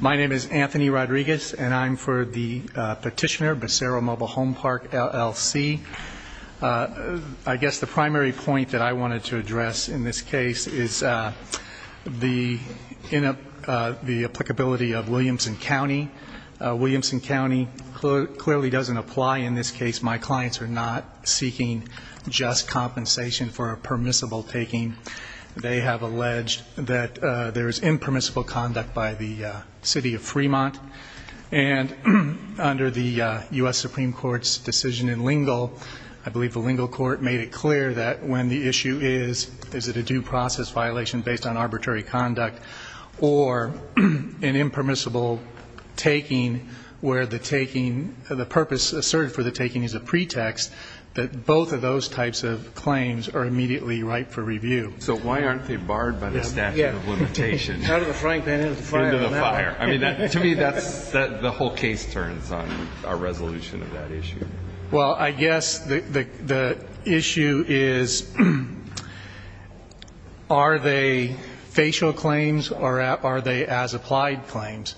My name is Anthony Rodriguez and I'm for the petitioner, Basaro Mble Home Pk, LLC. I guess the primary point that I wanted to address in this case is the applicability of Williamson County. Williamson County clearly doesn't apply in this case. My clients are not seeking just compensation for a permissible taking. They have alleged that there is impermissible conduct by the City of Fremont. And under the U.S. Supreme Court's decision in Lingle, I believe the Lingle Court made it clear that when the issue is, is it a due process violation based on arbitrary conduct or an impermissible taking where the purpose asserted for the taking is a pretext, that both of those types of claims are immediately ripe for review. So why aren't they barred by the statute of limitations? Out of the frank, then into the fire. Into the fire. I mean, to me, the whole case turns on a resolution of that issue. Well, I guess the issue is, are they facial claims or are they as-applied claims?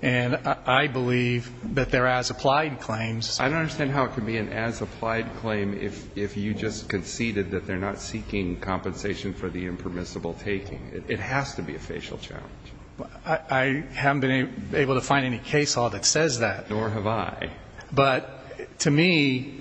And I believe that they're as-applied claims. I don't understand how it could be an as-applied claim if you just conceded that they're not seeking compensation for the impermissible taking. It has to be a facial challenge. I haven't been able to find any case law that says that. Nor have I. But to me,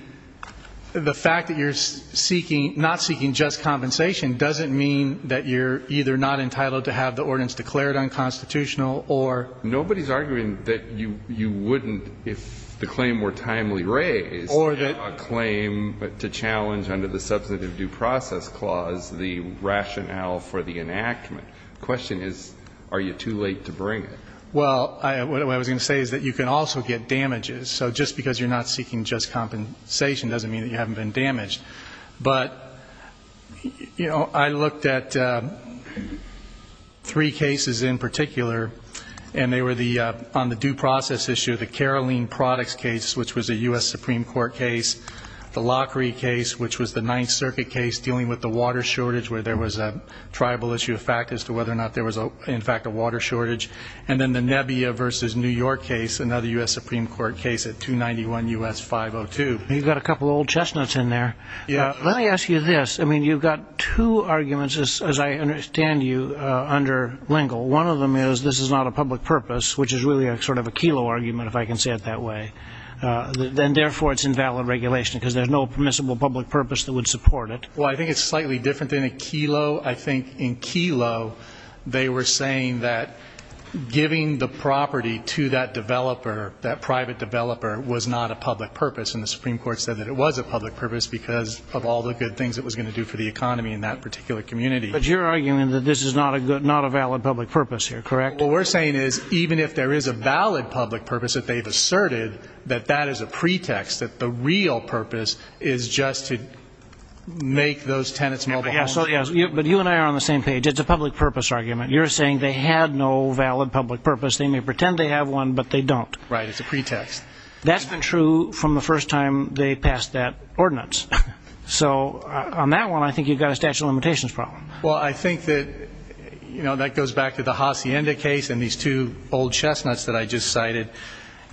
the fact that you're seeking, not seeking just compensation, doesn't mean that you're either not entitled to have the ordinance declared unconstitutional or. Nobody's arguing that you wouldn't, if the claim were timely raised, have a claim to challenge under the substantive due process clause the rationale for the enactment. The question is, are you too late to bring it? Well, what I was going to say is that you can also get damages. So just because you're not seeking just compensation doesn't mean that you haven't been damaged. But, you know, I looked at three cases in particular, and they were on the due process issue, the Caroline Products case, which was a U.S. Supreme Court case, the Lockery case, which was the Ninth Circuit case dealing with the water shortage where there was a tribal issue of fact as to whether or not there was, in fact, a water shortage. And then the Nebia versus New York case, another U.S. Supreme Court case at 291 U.S. 502. You've got a couple old chestnuts in there. Let me ask you this. I mean, you've got two arguments, as I understand you, under Lingle. One of them is this is not a public purpose, which is really sort of a Kelo argument, if I can say it that way. Then, therefore, it's invalid regulation, because there's no permissible public purpose that would support it. Well, I think it's slightly different than a Kelo. I think in Kelo they were saying that giving the property to that developer, that private developer, was not a public purpose. And the Supreme Court said that it was a public purpose because of all the good things it was going to do for the economy in that particular community. But you're arguing that this is not a valid public purpose here, correct? What we're saying is even if there is a valid public purpose, that they've asserted that that is a pretext, that the real purpose is just to make those tenants mobile homes. But you and I are on the same page. It's a public purpose argument. You're saying they had no valid public purpose. They may pretend they have one, but they don't. Right, it's a pretext. That's been true from the first time they passed that ordinance. So on that one, I think you've got a statute of limitations problem. Well, I think that that goes back to the Hacienda case and these two old chestnuts that I just cited.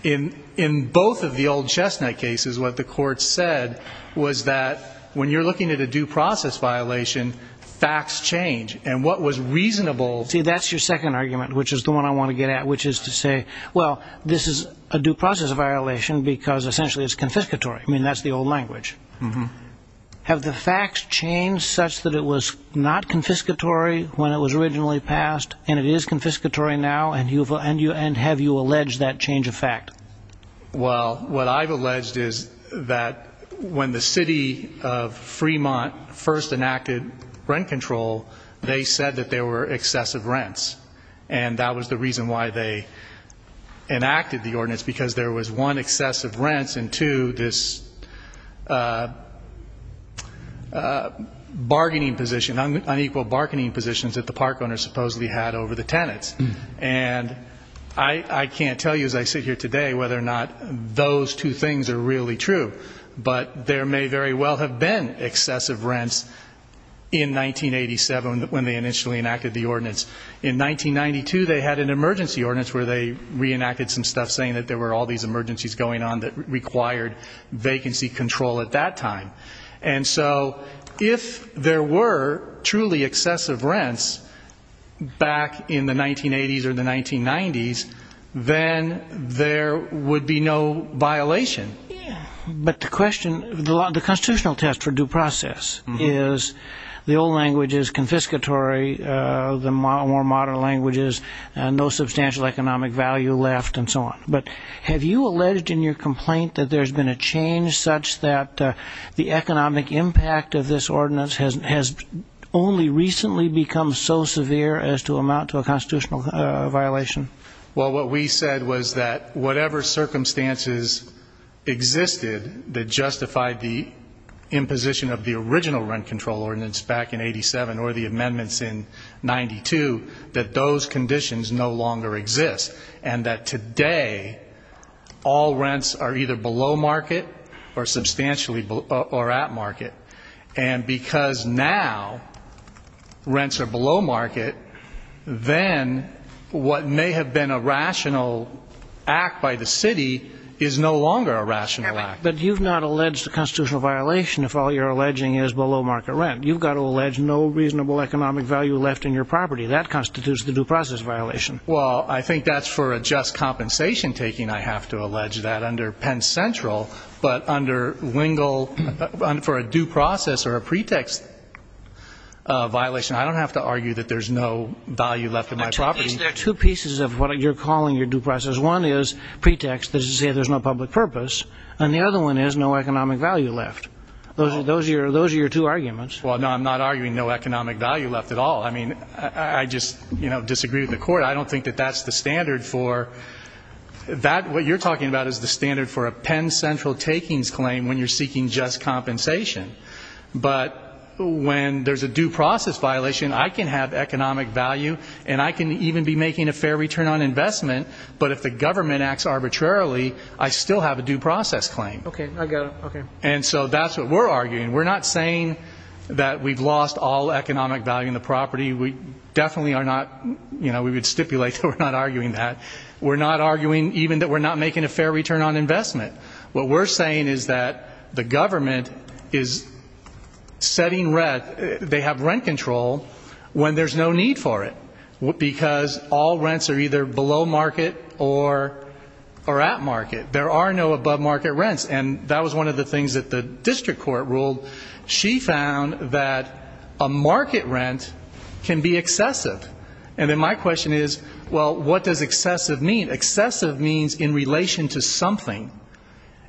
In both of the old chestnut cases, what the court said was that when you're looking at a due process violation, facts change. And what was reasonable – See, that's your second argument, which is the one I want to get at, which is to say, well, this is a due process violation because essentially it's confiscatory. I mean, that's the old language. Have the facts changed such that it was not confiscatory when it was originally passed, and it is confiscatory now, and have you alleged that change of fact? Well, what I've alleged is that when the city of Fremont first enacted rent control, they said that there were excessive rents, and that was the reason why they enacted the ordinance, because there was, one, excessive rents, and two, this bargaining position, unequal bargaining positions that the park owners supposedly had over the tenants. And I can't tell you as I sit here today whether or not those two things are really true, but there may very well have been excessive rents in 1987 when they initially enacted the ordinance. In 1992 they had an emergency ordinance where they reenacted some stuff saying that there were all these emergencies going on that required vacancy control at that time. And so if there were truly excessive rents back in the 1980s or the 1990s, then there would be no violation. But the question, the constitutional test for due process is the old language is confiscatory, the more modern language is no substantial economic value left, and so on. But have you alleged in your complaint that there's been a change such that the economic impact of this ordinance has only recently become so severe as to amount to a constitutional violation? Well, what we said was that whatever circumstances existed that justified the imposition of the original rent control ordinance back in 1987 or the amendments in 1992, that those conditions no longer exist and that today all rents are either below market or substantially at market. And because now rents are below market, then what may have been a rational act by the city is no longer a rational act. But you've not alleged a constitutional violation if all you're alleging is below market rent. You've got to allege no reasonable economic value left in your property. That constitutes the due process violation. Well, I think that's for a just compensation taking. I have to allege that under Penn Central. But under Wingle, for a due process or a pretext violation, I don't have to argue that there's no value left in my property. There are two pieces of what you're calling your due process. One is pretext, that is to say there's no public purpose, and the other one is no economic value left. Those are your two arguments. Well, no, I'm not arguing no economic value left at all. I mean, I just disagree with the Court. I don't think that that's the standard for that. What you're talking about is the standard for a Penn Central takings claim when you're seeking just compensation. But when there's a due process violation, I can have economic value and I can even be making a fair return on investment, but if the government acts arbitrarily, I still have a due process claim. Okay, I got it. And so that's what we're arguing. We're not saying that we've lost all economic value in the property. We definitely are not. You know, we would stipulate that we're not arguing that. We're not arguing even that we're not making a fair return on investment. What we're saying is that the government is setting rent. They have rent control when there's no need for it because all rents are either below market or at market. There are no above market rents, and that was one of the things that the district court ruled. She found that a market rent can be excessive. And then my question is, well, what does excessive mean? Excessive means in relation to something.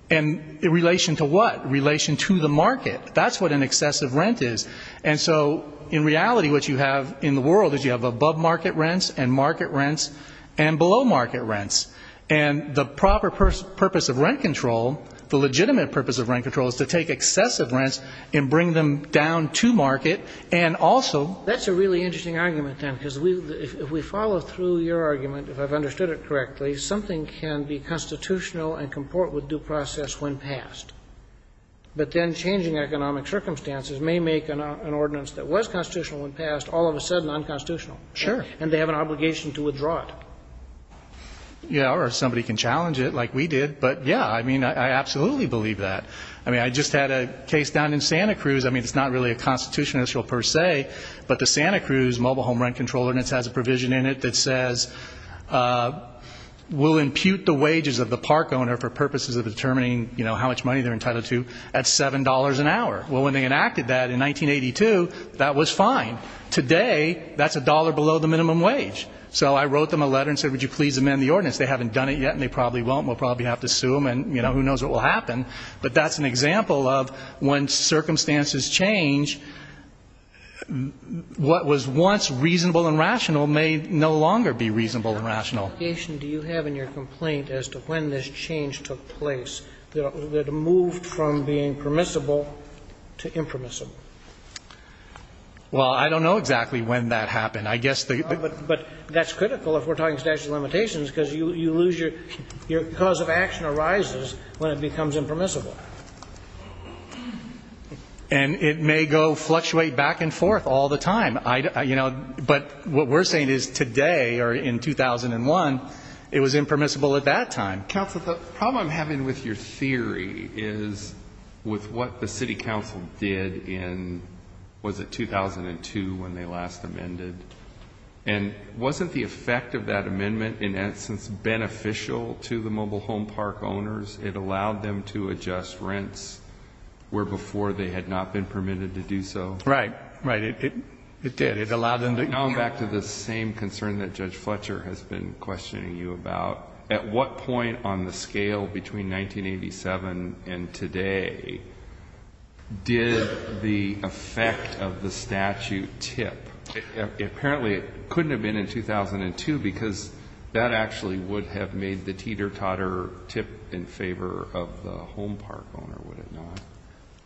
In relation to what? In relation to the market. That's what an excessive rent is. And so, in reality, what you have in the world is you have above market rents and market rents and below market rents. And the proper purpose of rent control, the legitimate purpose of rent control is to take excessive rents and bring them down to market and also – That's a really interesting argument, then, because if we follow through your argument, if I've understood it correctly, something can be constitutional and comport with due process when passed. But then changing economic circumstances may make an ordinance that was constitutional when passed all of a sudden unconstitutional. Sure. And they have an obligation to withdraw it. Yeah, or somebody can challenge it like we did. But, yeah, I mean, I absolutely believe that. I mean, I just had a case down in Santa Cruz. I mean, it's not really a constitutional issue per se, but the Santa Cruz Mobile Home Rent Control Ordinance has a provision in it that says we'll impute the wages of the park owner for purposes of determining, you know, how much money they're entitled to at $7 an hour. Well, when they enacted that in 1982, that was fine. Today, that's a dollar below the minimum wage. So I wrote them a letter and said, would you please amend the ordinance? They haven't done it yet and they probably won't and we'll probably have to sue them and, you know, who knows what will happen. But that's an example of when circumstances change, what was once reasonable and rational may no longer be reasonable and rational. What obligation do you have in your complaint as to when this change took place that moved from being permissible to impermissible? Well, I don't know exactly when that happened. But that's critical if we're talking statutory limitations because you lose your cause of action arises when it becomes impermissible. And it may go fluctuate back and forth all the time. But what we're saying is today or in 2001, it was impermissible at that time. Counsel, the problem I'm having with your theory is with what the city council did in, was it 2002 when they last amended? And wasn't the effect of that amendment, in essence, beneficial to the mobile home park owners? It allowed them to adjust rents where before they had not been permitted to do so. Right. Right. It did. It allowed them to. Going back to the same concern that Judge Fletcher has been questioning you about, at what point on the scale between 1987 and today did the effect of the statute tip? Apparently it couldn't have been in 2002 because that actually would have made the teeter-totter tip in favor of the home park owner, would it not?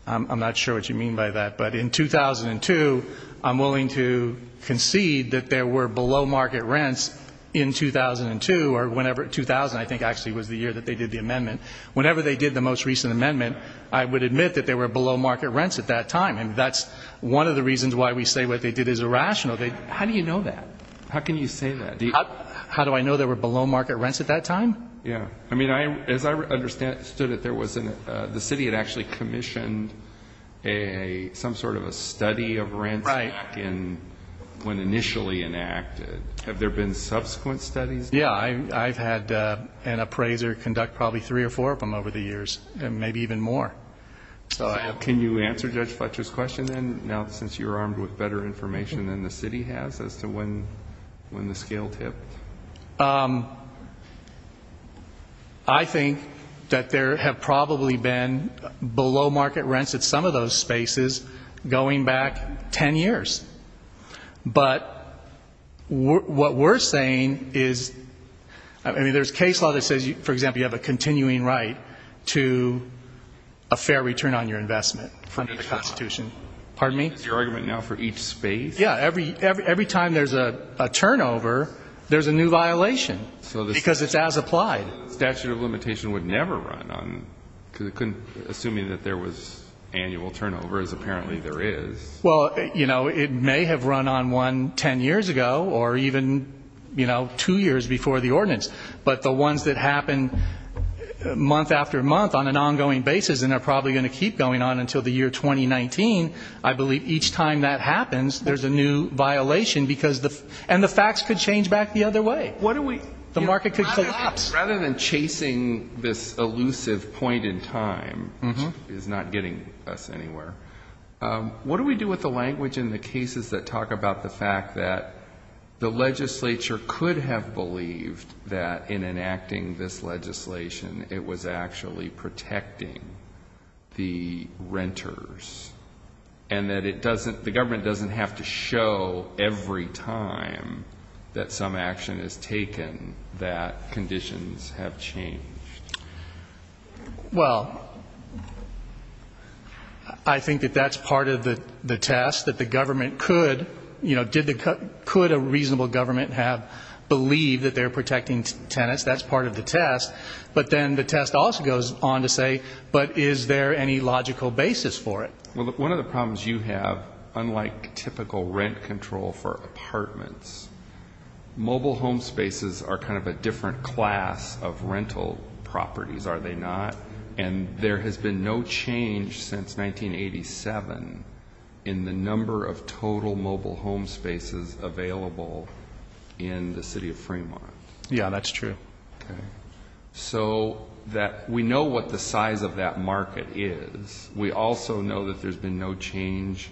I'm not sure what you mean by that. But in 2002, I'm willing to concede that there were below market rents in 2002 or whenever, 2000 I think actually was the year that they did the amendment. Whenever they did the most recent amendment, I would admit that there were below market rents at that time. And that's one of the reasons why we say what they did is irrational. How do you know that? How can you say that? How do I know there were below market rents at that time? Yeah. I mean, as I understood it, the city had actually commissioned some sort of a study of rents back in, when initially enacted. Have there been subsequent studies? Yeah. I've had an appraiser conduct probably three or four of them over the years, maybe even more. Can you answer Judge Fletcher's question then, now since you're armed with better information than the city has as to when the scale tipped? I think that there have probably been below market rents at some of those spaces going back 10 years. But what we're saying is, I mean, there's case law that says, for example, you have a continuing right to a fair return on your investment under the Constitution. Pardon me? Is your argument now for each space? Yeah. Every time there's a turnover, there's a new violation because it's as applied. So the statute of limitation would never run on, assuming that there was annual turnover, as apparently there is. Well, you know, it may have run on one 10 years ago or even, you know, two years before the ordinance. But the ones that happen month after month on an ongoing basis and are probably going to keep going on until the year 2019, I believe each time that happens there's a new violation because the facts could change back the other way. The market could collapse. Rather than chasing this elusive point in time, which is not getting us anywhere, what do we do with the language in the cases that talk about the fact that the legislature could have believed that in enacting this legislation it was actually protecting the renters and that the government doesn't have to show every time that some action is taken that conditions have changed? Well, I think that that's part of the test, that the government could. You know, could a reasonable government have believed that they're protecting tenants? That's part of the test. But then the test also goes on to say, but is there any logical basis for it? Well, one of the problems you have, unlike typical rent control for apartments, mobile home spaces are kind of a different class of rental properties, are they not? And there has been no change since 1987 in the number of total mobile home spaces available in the city of Fremont. Yeah, that's true. So we know what the size of that market is. We also know that there's been no change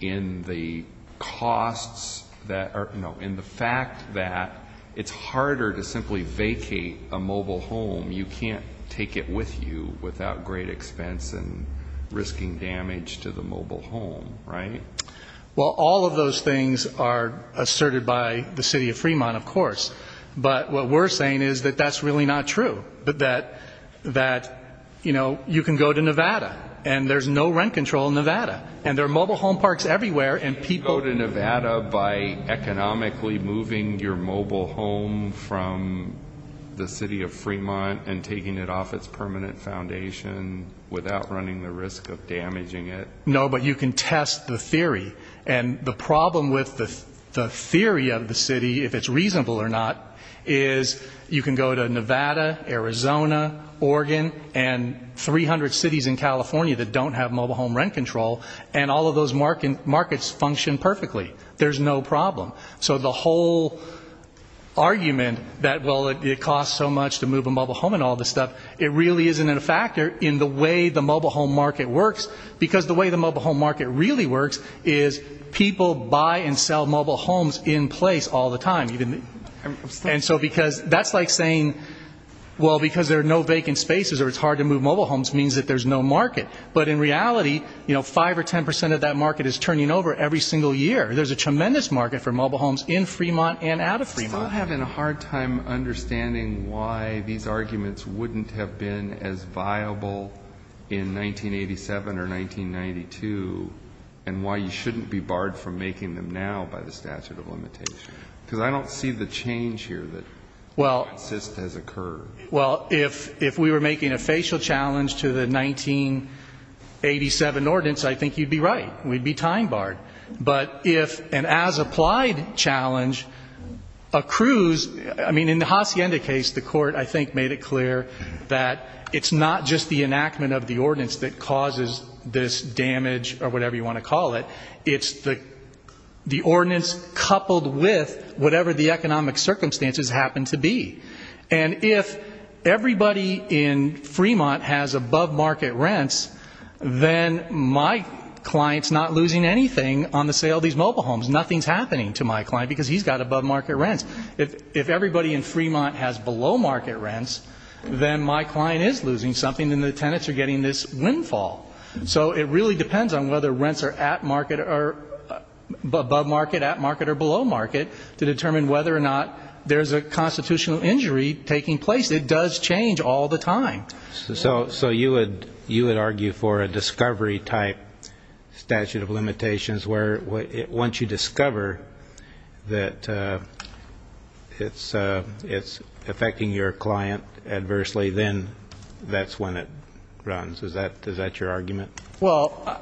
in the costs that are, no, in the fact that it's harder to simply vacate a mobile home. You can't take it with you without great expense and risking damage to the mobile home, right? Well, all of those things are asserted by the city of Fremont, of course. But what we're saying is that that's really not true, that, you know, you can go to Nevada and there's no rent control in Nevada, and there are mobile home parks everywhere. You can't go to Nevada by economically moving your mobile home from the city of Fremont and taking it off its permanent foundation without running the risk of damaging it. No, but you can test the theory. And the problem with the theory of the city, if it's reasonable or not, is you can go to Nevada, Arizona, Oregon, and 300 cities in California that don't have mobile home rent control, and all of those markets function perfectly. There's no problem. So the whole argument that, well, it costs so much to move a mobile home and all this stuff, it really isn't a factor in the way the mobile home market works, because the way the mobile home market really works is people buy and sell mobile homes in place all the time. And so that's like saying, well, because there are no vacant spaces or it's hard to move mobile homes means that there's no market. But in reality, you know, 5% or 10% of that market is turning over every single year. There's a tremendous market for mobile homes in Fremont and out of Fremont. I'm still having a hard time understanding why these arguments wouldn't have been as viable in 1987 or 1992 and why you shouldn't be barred from making them now by the statute of limitations. Because I don't see the change here that just has occurred. Well, if we were making a facial challenge to the 1987 ordinance, I think you'd be right. We'd be time-barred. But if an as-applied challenge accrues, I mean, in the Hacienda case, the court I think made it clear that it's not just the enactment of the ordinance that causes this damage or whatever you want to call it. It's the ordinance coupled with whatever the economic circumstances happen to be. And if everybody in Fremont has above-market rents, then my client's not losing anything on the sale of these mobile homes. Nothing's happening to my client because he's got above-market rents. If everybody in Fremont has below-market rents, then my client is losing something and the tenants are getting this windfall. So it really depends on whether rents are above-market, at-market, or below-market to determine whether or not there's a constitutional injury taking place. It does change all the time. So you would argue for a discovery-type statute of limitations where once you discover that it's affecting your client adversely, then that's when it runs. Is that your argument? Well,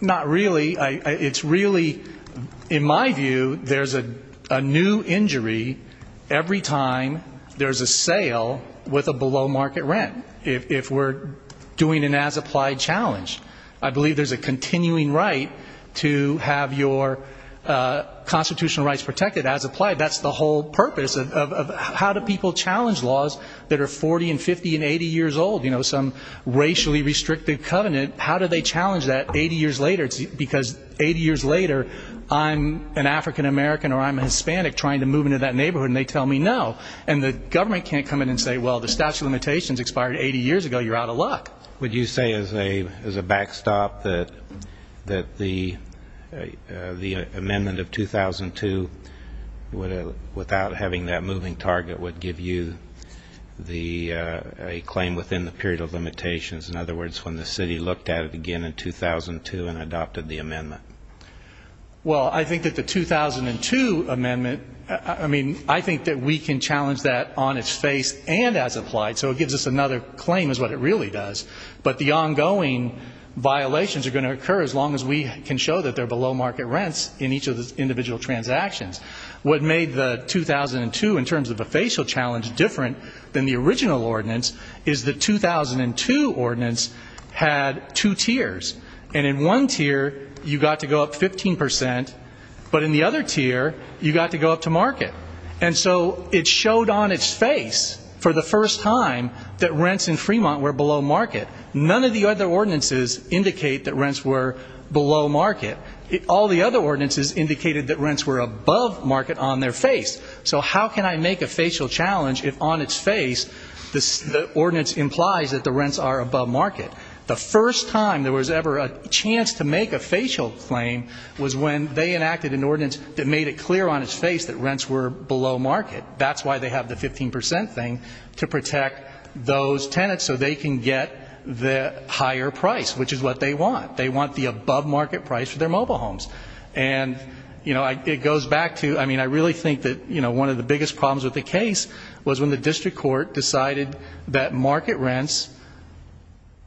not really. It's really, in my view, there's a new injury every time there's a sale with a below-market rent, if we're doing an as-applied challenge. I believe there's a continuing right to have your constitutional rights protected as-applied. That's the whole purpose of how do people challenge laws that are 40 and 50 and 80 years old? You know, some racially-restricted covenant, how do they challenge that 80 years later? Because 80 years later, I'm an African-American or I'm a Hispanic trying to move into that neighborhood, and they tell me no. And the government can't come in and say, well, the statute of limitations expired 80 years ago. You're out of luck. Would you say as a backstop that the amendment of 2002, without having that moving target, would give you a claim within the period of limitations? In other words, when the city looked at it again in 2002 and adopted the amendment? Well, I think that the 2002 amendment, I mean, I think that we can challenge that on its face and as-applied, so it gives us another claim is what it really does. But the ongoing violations are going to occur as long as we can show that they're below market rents in each of the individual transactions. What made the 2002, in terms of a facial challenge, different than the original ordinance is the 2002 ordinance had two tiers. And in one tier, you got to go up 15%, but in the other tier, you got to go up to market. And so it showed on its face for the first time that rents in Fremont were below market. None of the other ordinances indicate that rents were below market. All the other ordinances indicated that rents were above market on their face. So how can I make a facial challenge if on its face the ordinance implies that the rents are above market? The first time there was ever a chance to make a facial claim was when they enacted an ordinance that made it clear on its face that rents were below market. That's why they have the 15% thing, to protect those tenants so they can get the higher price, which is what they want. They want the above market price for their mobile homes. And, you know, it goes back to, I mean, I really think that one of the biggest problems with the case was when the district court decided that market rents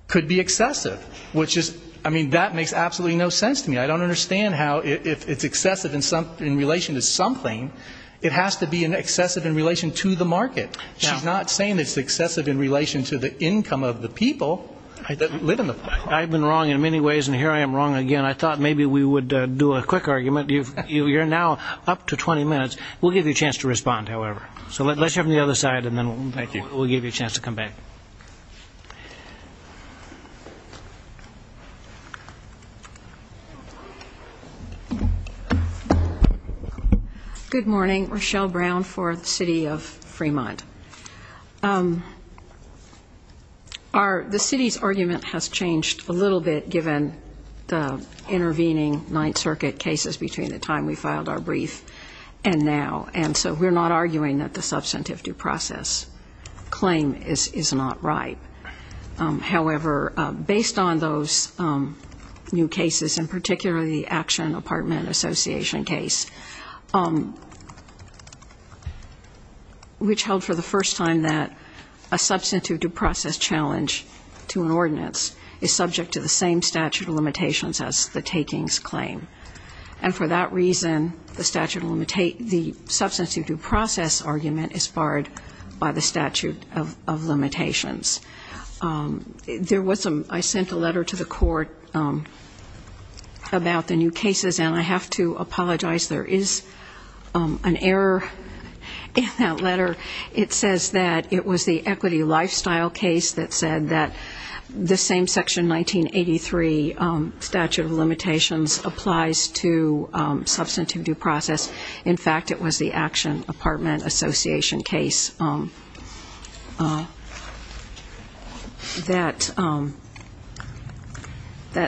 could be excessive, which is, I mean, that makes absolutely no sense to me. I don't understand how if it's excessive in relation to something, it has to be excessive in relation to the market. She's not saying it's excessive in relation to the income of the people that live in the apartment. I've been wrong in many ways, and here I am wrong again. I thought maybe we would do a quick argument. You're now up to 20 minutes. We'll give you a chance to respond, however. So let's hear from the other side, and then we'll give you a chance to come back. Good morning. Rochelle Brown for the city of Fremont. The city's argument has changed a little bit given the intervening Ninth Circuit cases between the time we filed our brief and now. And so we're not arguing that the substantive due process claim is not right. However, based on those new cases, and particularly the Action Apartment Association case, which held for the first time that a substantive due process challenge to an ordinance is subject to the same statute of limitations as the takings claim. And for that reason, the substantive due process argument is barred by the statute of limitations. I sent a letter to the court about the new cases, and I have to apologize. There is an error in that letter. It says that it was the equity lifestyle case that said that the same Section 1983 statute of limitations applies to substantive due process. In fact, it was the Action Apartment Association case that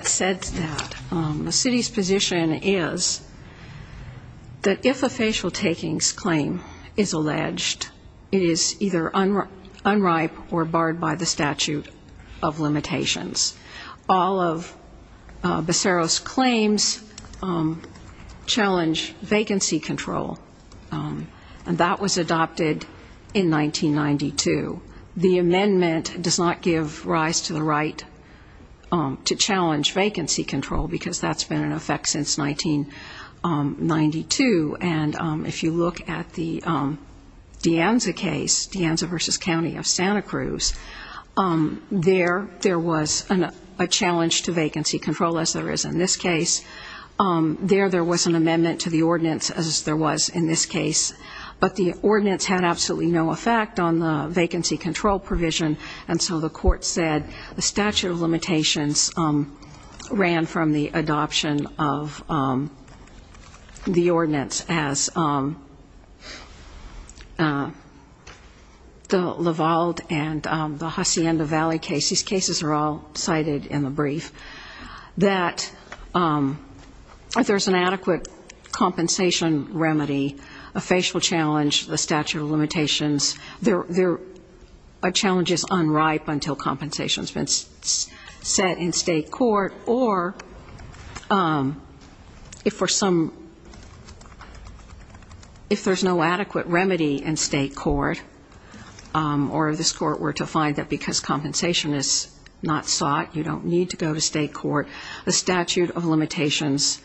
said that. The city's position is that if a facial takings claim is alleged, it is either unripe or barred by the statute of limitations. All of Becerra's claims challenge vacancy control, and that was adopted in 1992. The amendment does not give rise to the right to challenge vacancy control because that's been in effect since 1992. And if you look at the De Anza case, De Anza v. County of Santa Cruz, there, there was a challenge to vacancy control, as there is in this case. There, there was an amendment to the ordinance, as there was in this case. But the ordinance had absolutely no effect on the vacancy control provision, and so the court said the statute of limitations ran from the adoption of the ordinance as the Lavalde and the Hacienda Valley case. These cases are all cited in the brief. That if there's an adequate compensation remedy, a facial challenge, the statute of limitations, there are challenges unripe until compensation has been set in state court or if for some, if there's no adequate remedy in state court or this court were to find that because compensation is not sought, you don't need to go to state court, the statute of limitations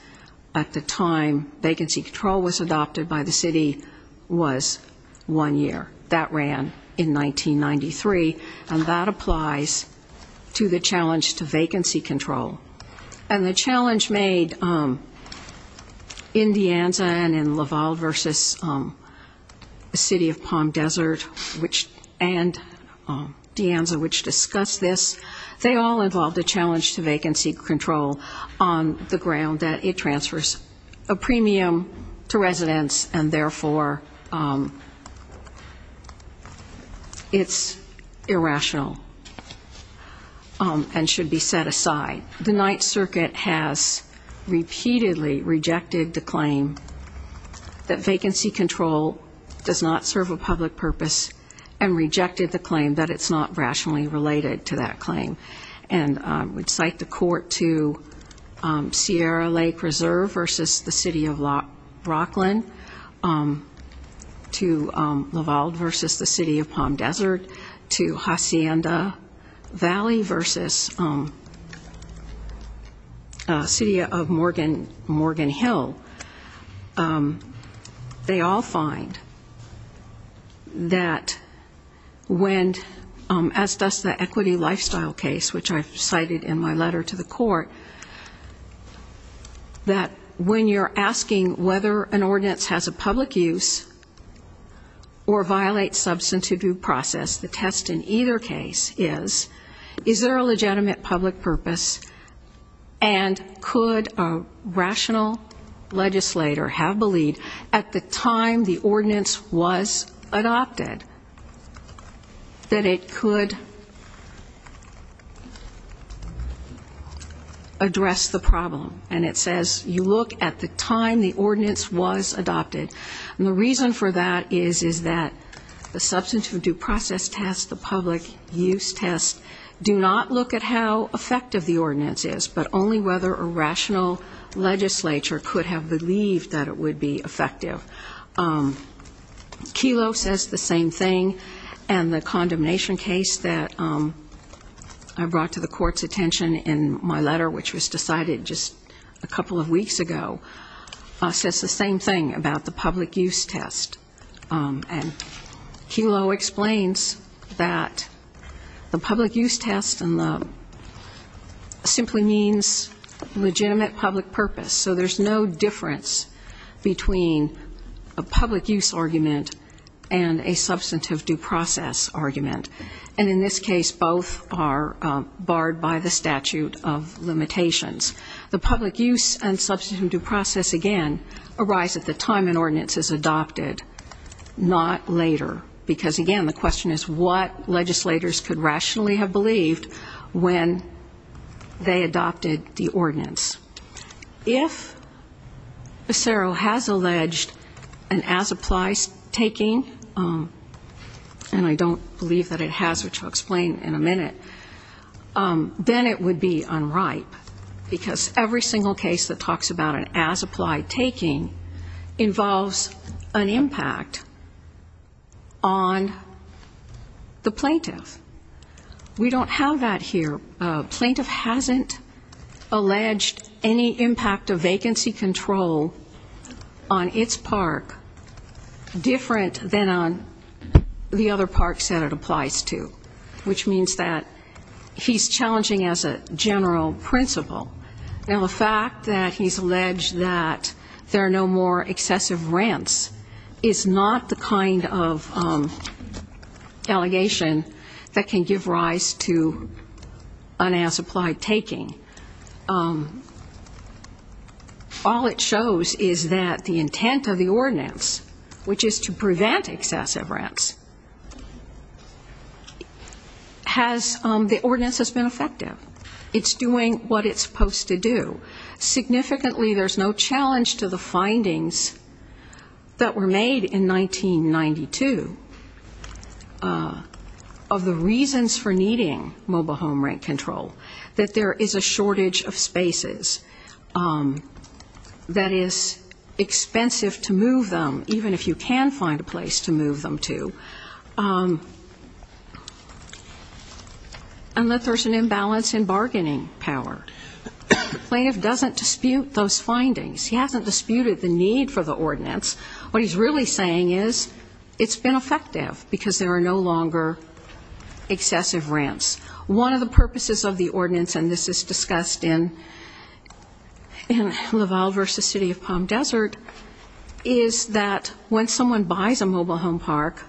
at the time vacancy control was adopted by the city was one year. That ran in 1993, and that applies to the challenge to vacancy control. And the challenge made in De Anza and in Lavalde v. City of Palm Desert and De Anza, which discussed this, they all involved a challenge to vacancy control on the ground that it transfers a premium to residents and therefore it's irrational and should be set aside. The Ninth Circuit has repeatedly rejected the claim that vacancy control does not serve a public purpose and rejected the claim that it's not rationally related to that claim. And I would cite the court to Sierra Lake Reserve v. City of Rockland, to Lavalde v. City of Palm Desert, to Hacienda Valley v. City of Morgan Hill. They all find that when, as does the equity lifestyle case, which I've cited in my letter to the court, that when you're asking whether an ordinance has a public use or violates substantive due process, the test in either case is, is there a legitimate public purpose, and could a rational legislator have believed at the time the ordinance was adopted that it could address the problem? And it says you look at the time the ordinance was adopted. And the reason for that is, is that the substantive due process test, the public use test, do not look at how effective the ordinance is, but only whether a rational legislature could have believed that it would be effective. Kelo says the same thing, and the condemnation case that I brought to the court's attention in my letter, which was decided just a couple of weeks ago, says the same thing about the public use test. And Kelo explains that the public use test simply means legitimate public purpose. So there's no difference between a public use argument and a substantive due process argument. And in this case, both are barred by the statute of limitations. The public use and substantive due process, again, arise at the time an ordinance is adopted, not later. Because, again, the question is what legislators could rationally have believed when they adopted the ordinance. If CERO has alleged an as-applies taking, and I don't believe that it has, which I'll explain in a minute, then it would be unripe, because every single case that talks about an as-applies taking involves an impact on the plaintiff. We don't have that here. Plaintiff hasn't alleged any impact of vacancy control on its park different than on the other parks that it applies to, which means that he's challenging as a general principle. Now, the fact that he's alleged that there are no more excessive rents is not the kind of allegation that he's making. That can give rise to an as-applied taking. All it shows is that the intent of the ordinance, which is to prevent excessive rents, the ordinance has been effective. It's doing what it's supposed to do. Significantly, there's no challenge to the findings that were made in 1992 that there are reasons for needing mobile home rent control, that there is a shortage of spaces, that it's expensive to move them, even if you can find a place to move them to, and that there's an imbalance in bargaining power. The plaintiff doesn't dispute those findings. He hasn't disputed the need for the ordinance. One of the purposes of the ordinance, and this is discussed in Laval versus City of Palm Desert, is that when someone buys a mobile home park,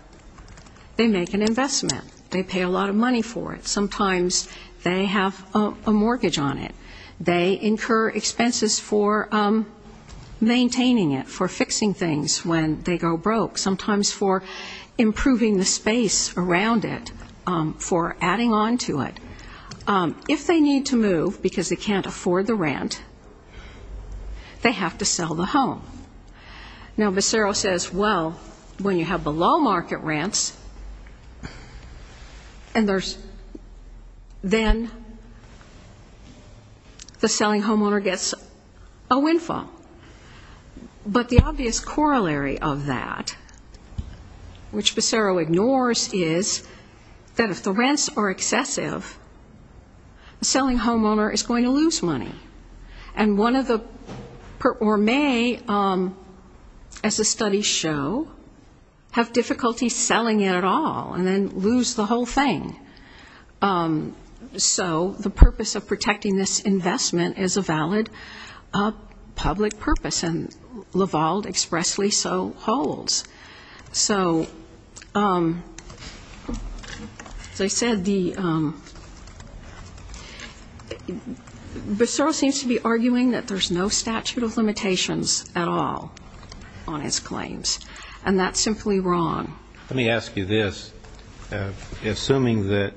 they make an investment. They pay a lot of money for it. Sometimes they have a mortgage on it. They incur expenses for maintaining it, for fixing things when they go broke, sometimes for improving the space around it, for adding on to it. If they need to move because they can't afford the rent, they have to sell the home. Now, Becero says, well, when you have below-market rents, and there's then the selling homeowner gets a windfall. But the obvious corollary of that, which Becero ignores, is that if the rent is too high, if the rents are excessive, the selling homeowner is going to lose money. And one of the, or may, as the studies show, have difficulty selling it at all, and then lose the whole thing. So the purpose of protecting this investment is a valid public purpose, and Laval expressly so holds. So as I said, Becero seems to be arguing that there's no statute of limitations at all on his claims, and that's simply wrong. Let me ask you this. Assuming that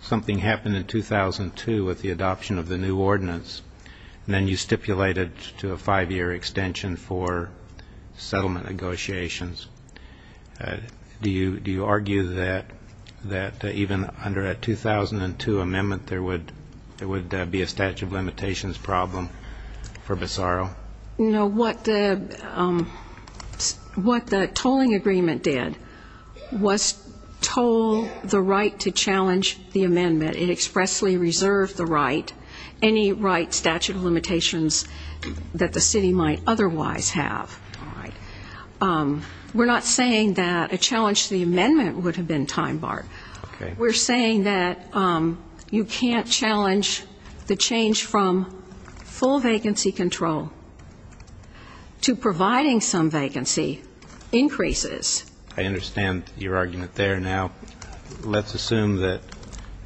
something happened in 2002 with the adoption of the new ordinance, and then you stipulated to a five-year extension for settlement negotiations, do you argue that even under a 2002 amendment there would be a statute of limitations problem for Becero? You know, what the tolling agreement did was toll the right to challenge the amendment. It expressly reserved the right, any right statute of limitations that the city might have. That the city might otherwise have. We're not saying that a challenge to the amendment would have been time barred. We're saying that you can't challenge the change from full vacancy control to providing some vacancy increases. I understand your argument there. Now, let's assume that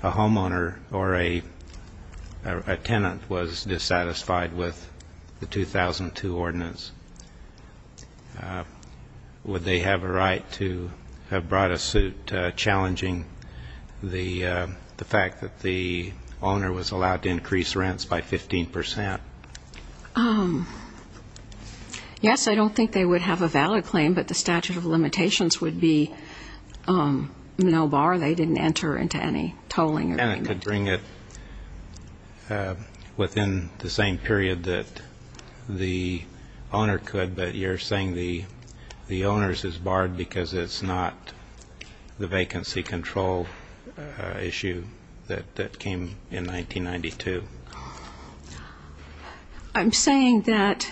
a homeowner or a tenant was dissatisfied with the 2002 ordinance. Would they have a right to have brought a suit challenging the fact that the owner was allowed to increase rents by 15 percent? Yes, I don't think they would have a valid claim, but the statute of limitations would be no bar. They didn't enter into any tolling agreement. And it could bring it within the same period that the owner could, but you're saying the owner's is barred because it's not the vacancy control issue that came in 1992. I'm saying that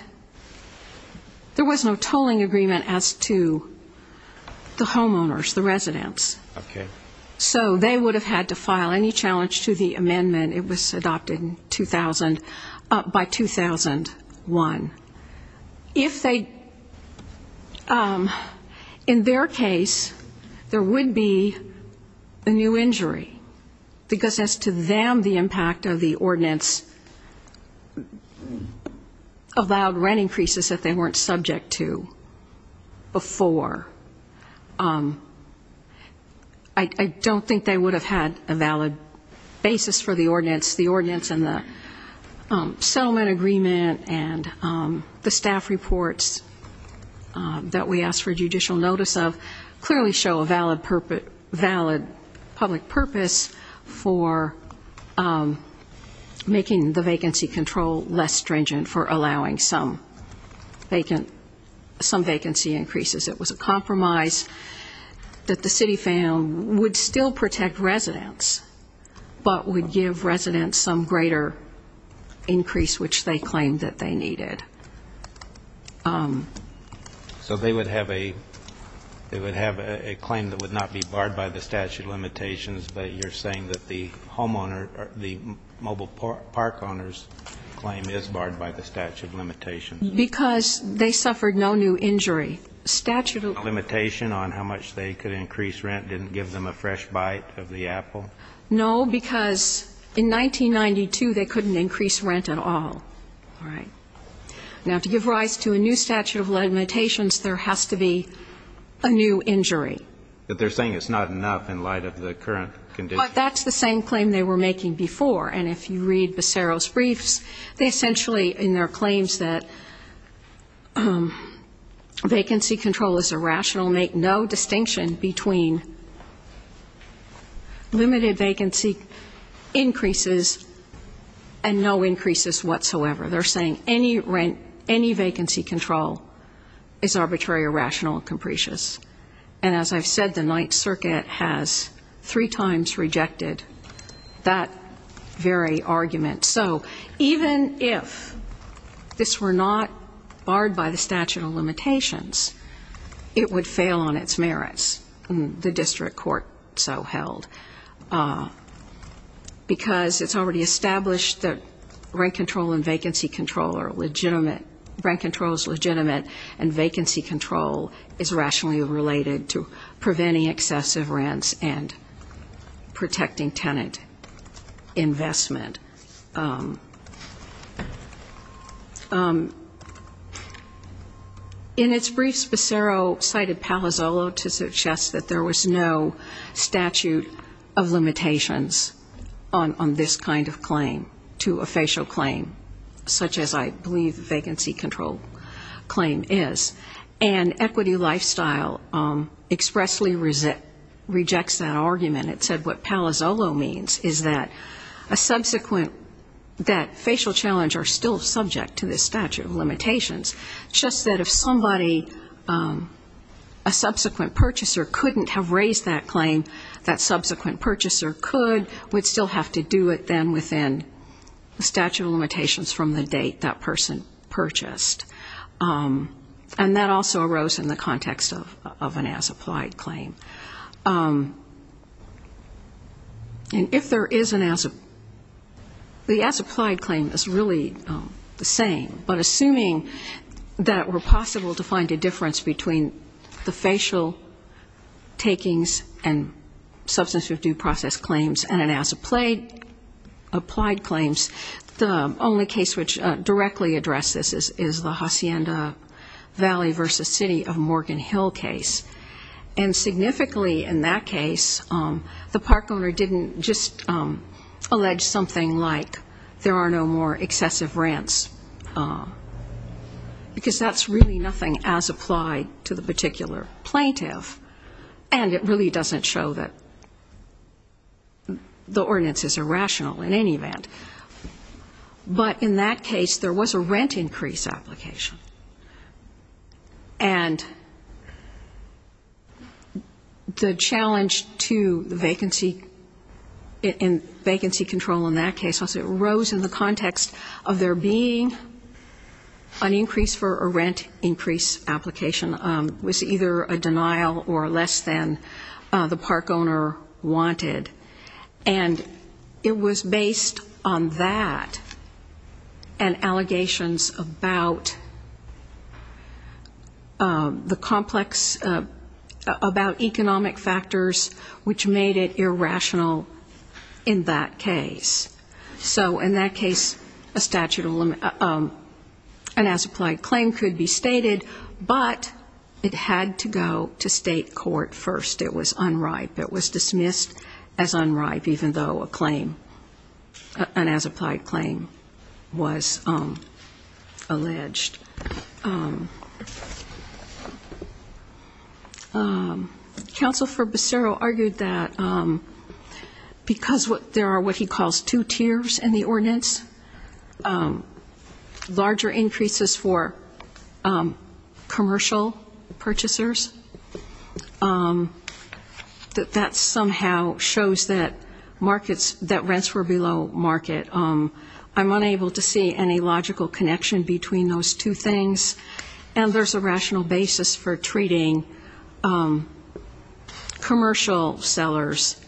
there was no tolling agreement as to the homeowners, the residents. So they would have had to file any challenge to the amendment. It was adopted by 2001. In their case, there would be a new injury, because as to them, the impact of the ordinance, they would have allowed rent increases that they weren't subject to before. I don't think they would have had a valid basis for the ordinance. The ordinance and the settlement agreement and the staff reports that we asked for judicial notice of clearly show a valid public purpose for making the vacancy control less important. Less stringent for allowing some vacancy increases. It was a compromise that the city found would still protect residents, but would give residents some greater increase, which they claimed that they needed. So they would have a claim that would not be barred by the statute of limitations, but you're saying that the homeowner, the mobile park owner's claim is barred. Because they suffered no new injury. Limitation on how much they could increase rent didn't give them a fresh bite of the apple? No, because in 1992, they couldn't increase rent at all. All right. Now, to give rise to a new statute of limitations, there has to be a new injury. But they're saying it's not enough in light of the current condition. But that's the same claim they were making before, and if you read Becero's briefs, they essentially, in their claims that vacancy control is irrational, make no distinction between limited vacancy increases and no increases whatsoever. They're saying any vacancy control is arbitrary, irrational, and capricious. And as I've said, the Ninth Circuit has three times rejected that very argument. So even if this were not barred by the statute of limitations, it would fail on its merits, the district court so held. Because it's already established that rent control and vacancy control are legitimate. Rent control is legitimate, and vacancy control is rationally related to preventing excessive rents and protecting tenant investment. In its briefs, Becero cited Palazzolo to suggest that there was no statute of limitations on this kind of claim to a facial claim, such as, I believe, vacancy control. And equity lifestyle expressly rejects that argument. It said what Palazzolo means is that a subsequent, that facial challenge are still subject to the statute of limitations. Just that if somebody, a subsequent purchaser couldn't have raised that claim, that subsequent purchaser could, would still have to do it then within the statute of limitations from the date that person purchased. And that also arose in the context of an as-applied claim. And if there is an as-applied claim, the as-applied claim is really the same, but assuming that it were possible to find a difference between the facial takings and substantive due process claims and an as-applied claims, the only case which directly addresses this is, is that there is an as-applied claim. And that is the Hacienda Valley v. City of Morgan Hill case. And significantly in that case, the park owner didn't just allege something like there are no more excessive rents, because that's really nothing as-applied to the particular plaintiff. And it really doesn't show that the ordinance is irrational in any event. But in that case, there was a rent increase application. And the challenge to the vacancy control in that case, I'll say, arose in the context of there being an increase for a rent increase application. It was either a denial or less than the park owner wanted. And it was based on that and allegations about the complex, about economic factors, which made it irrational in that case. So in that case, a statute of limit, an as-applied claim could be stated, but it had to go to state court first. It was unripe. It was dismissed as unripe, even though a claim, an as-applied claim was alleged. Counsel for Becero argued that because there are what he calls two tiers in the ordinance, larger increases for commercial purchasers. That that somehow shows that markets, that rents were below market. I'm unable to see any logical connection between those two things. And there's a rational basis for treating commercial sellers.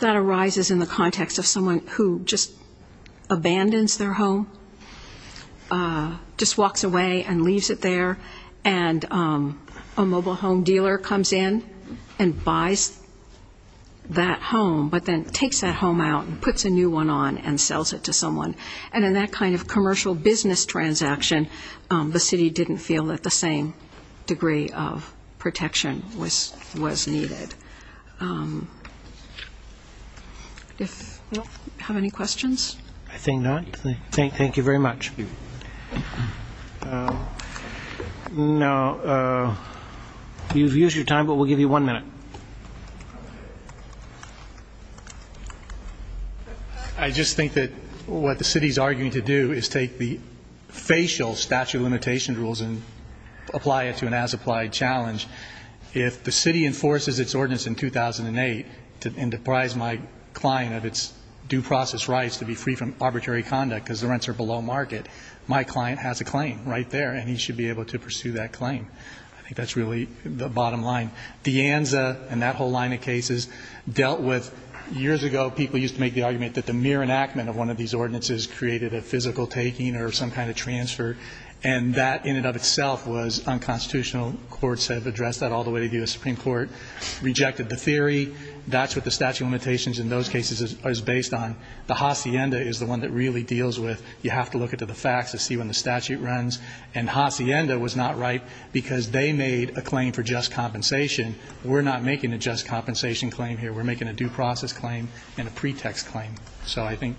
That arises in the context of someone who just abandons their home, just walks away and leaves it there. And a mobile home dealer comes in and buys that home, but then takes that home out and puts a new one on and sells it to someone. And in that kind of commercial business transaction, the city didn't feel that the same degree of protection was needed. Do we have any questions? I think not. Thank you very much. No. You've used your time, but we'll give you one minute. I just think that what the city's arguing to do is take the facial statute of limitation rules and apply it to an as-applied challenge. I think that's really the bottom line. De Anza and that whole line of cases dealt with years ago, people used to make the argument that the mere enactment of one of these ordinances created a physical taking or some kind of transfer. And that in and of itself was unconstitutional. Courts have addressed that all the way to the U.S. Supreme Court. Rejected the theory. That's what the statute of limitations in those cases is based on. Hacienda is the one that really deals with you have to look into the facts to see when the statute runs. And Hacienda was not right because they made a claim for just compensation. We're not making a just compensation claim here. We're making a due process claim and a pretext claim. So I think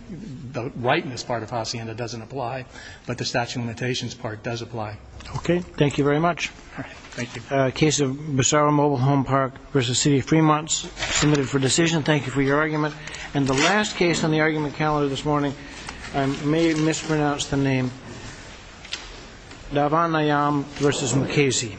the rightness part of Hacienda doesn't apply, but the statute of limitations part does apply. Okay. Thank you very much. All right. Thank you. And the last case on the argument calendar this morning, I may have mispronounced the name. Davon Ayam versus McKayze.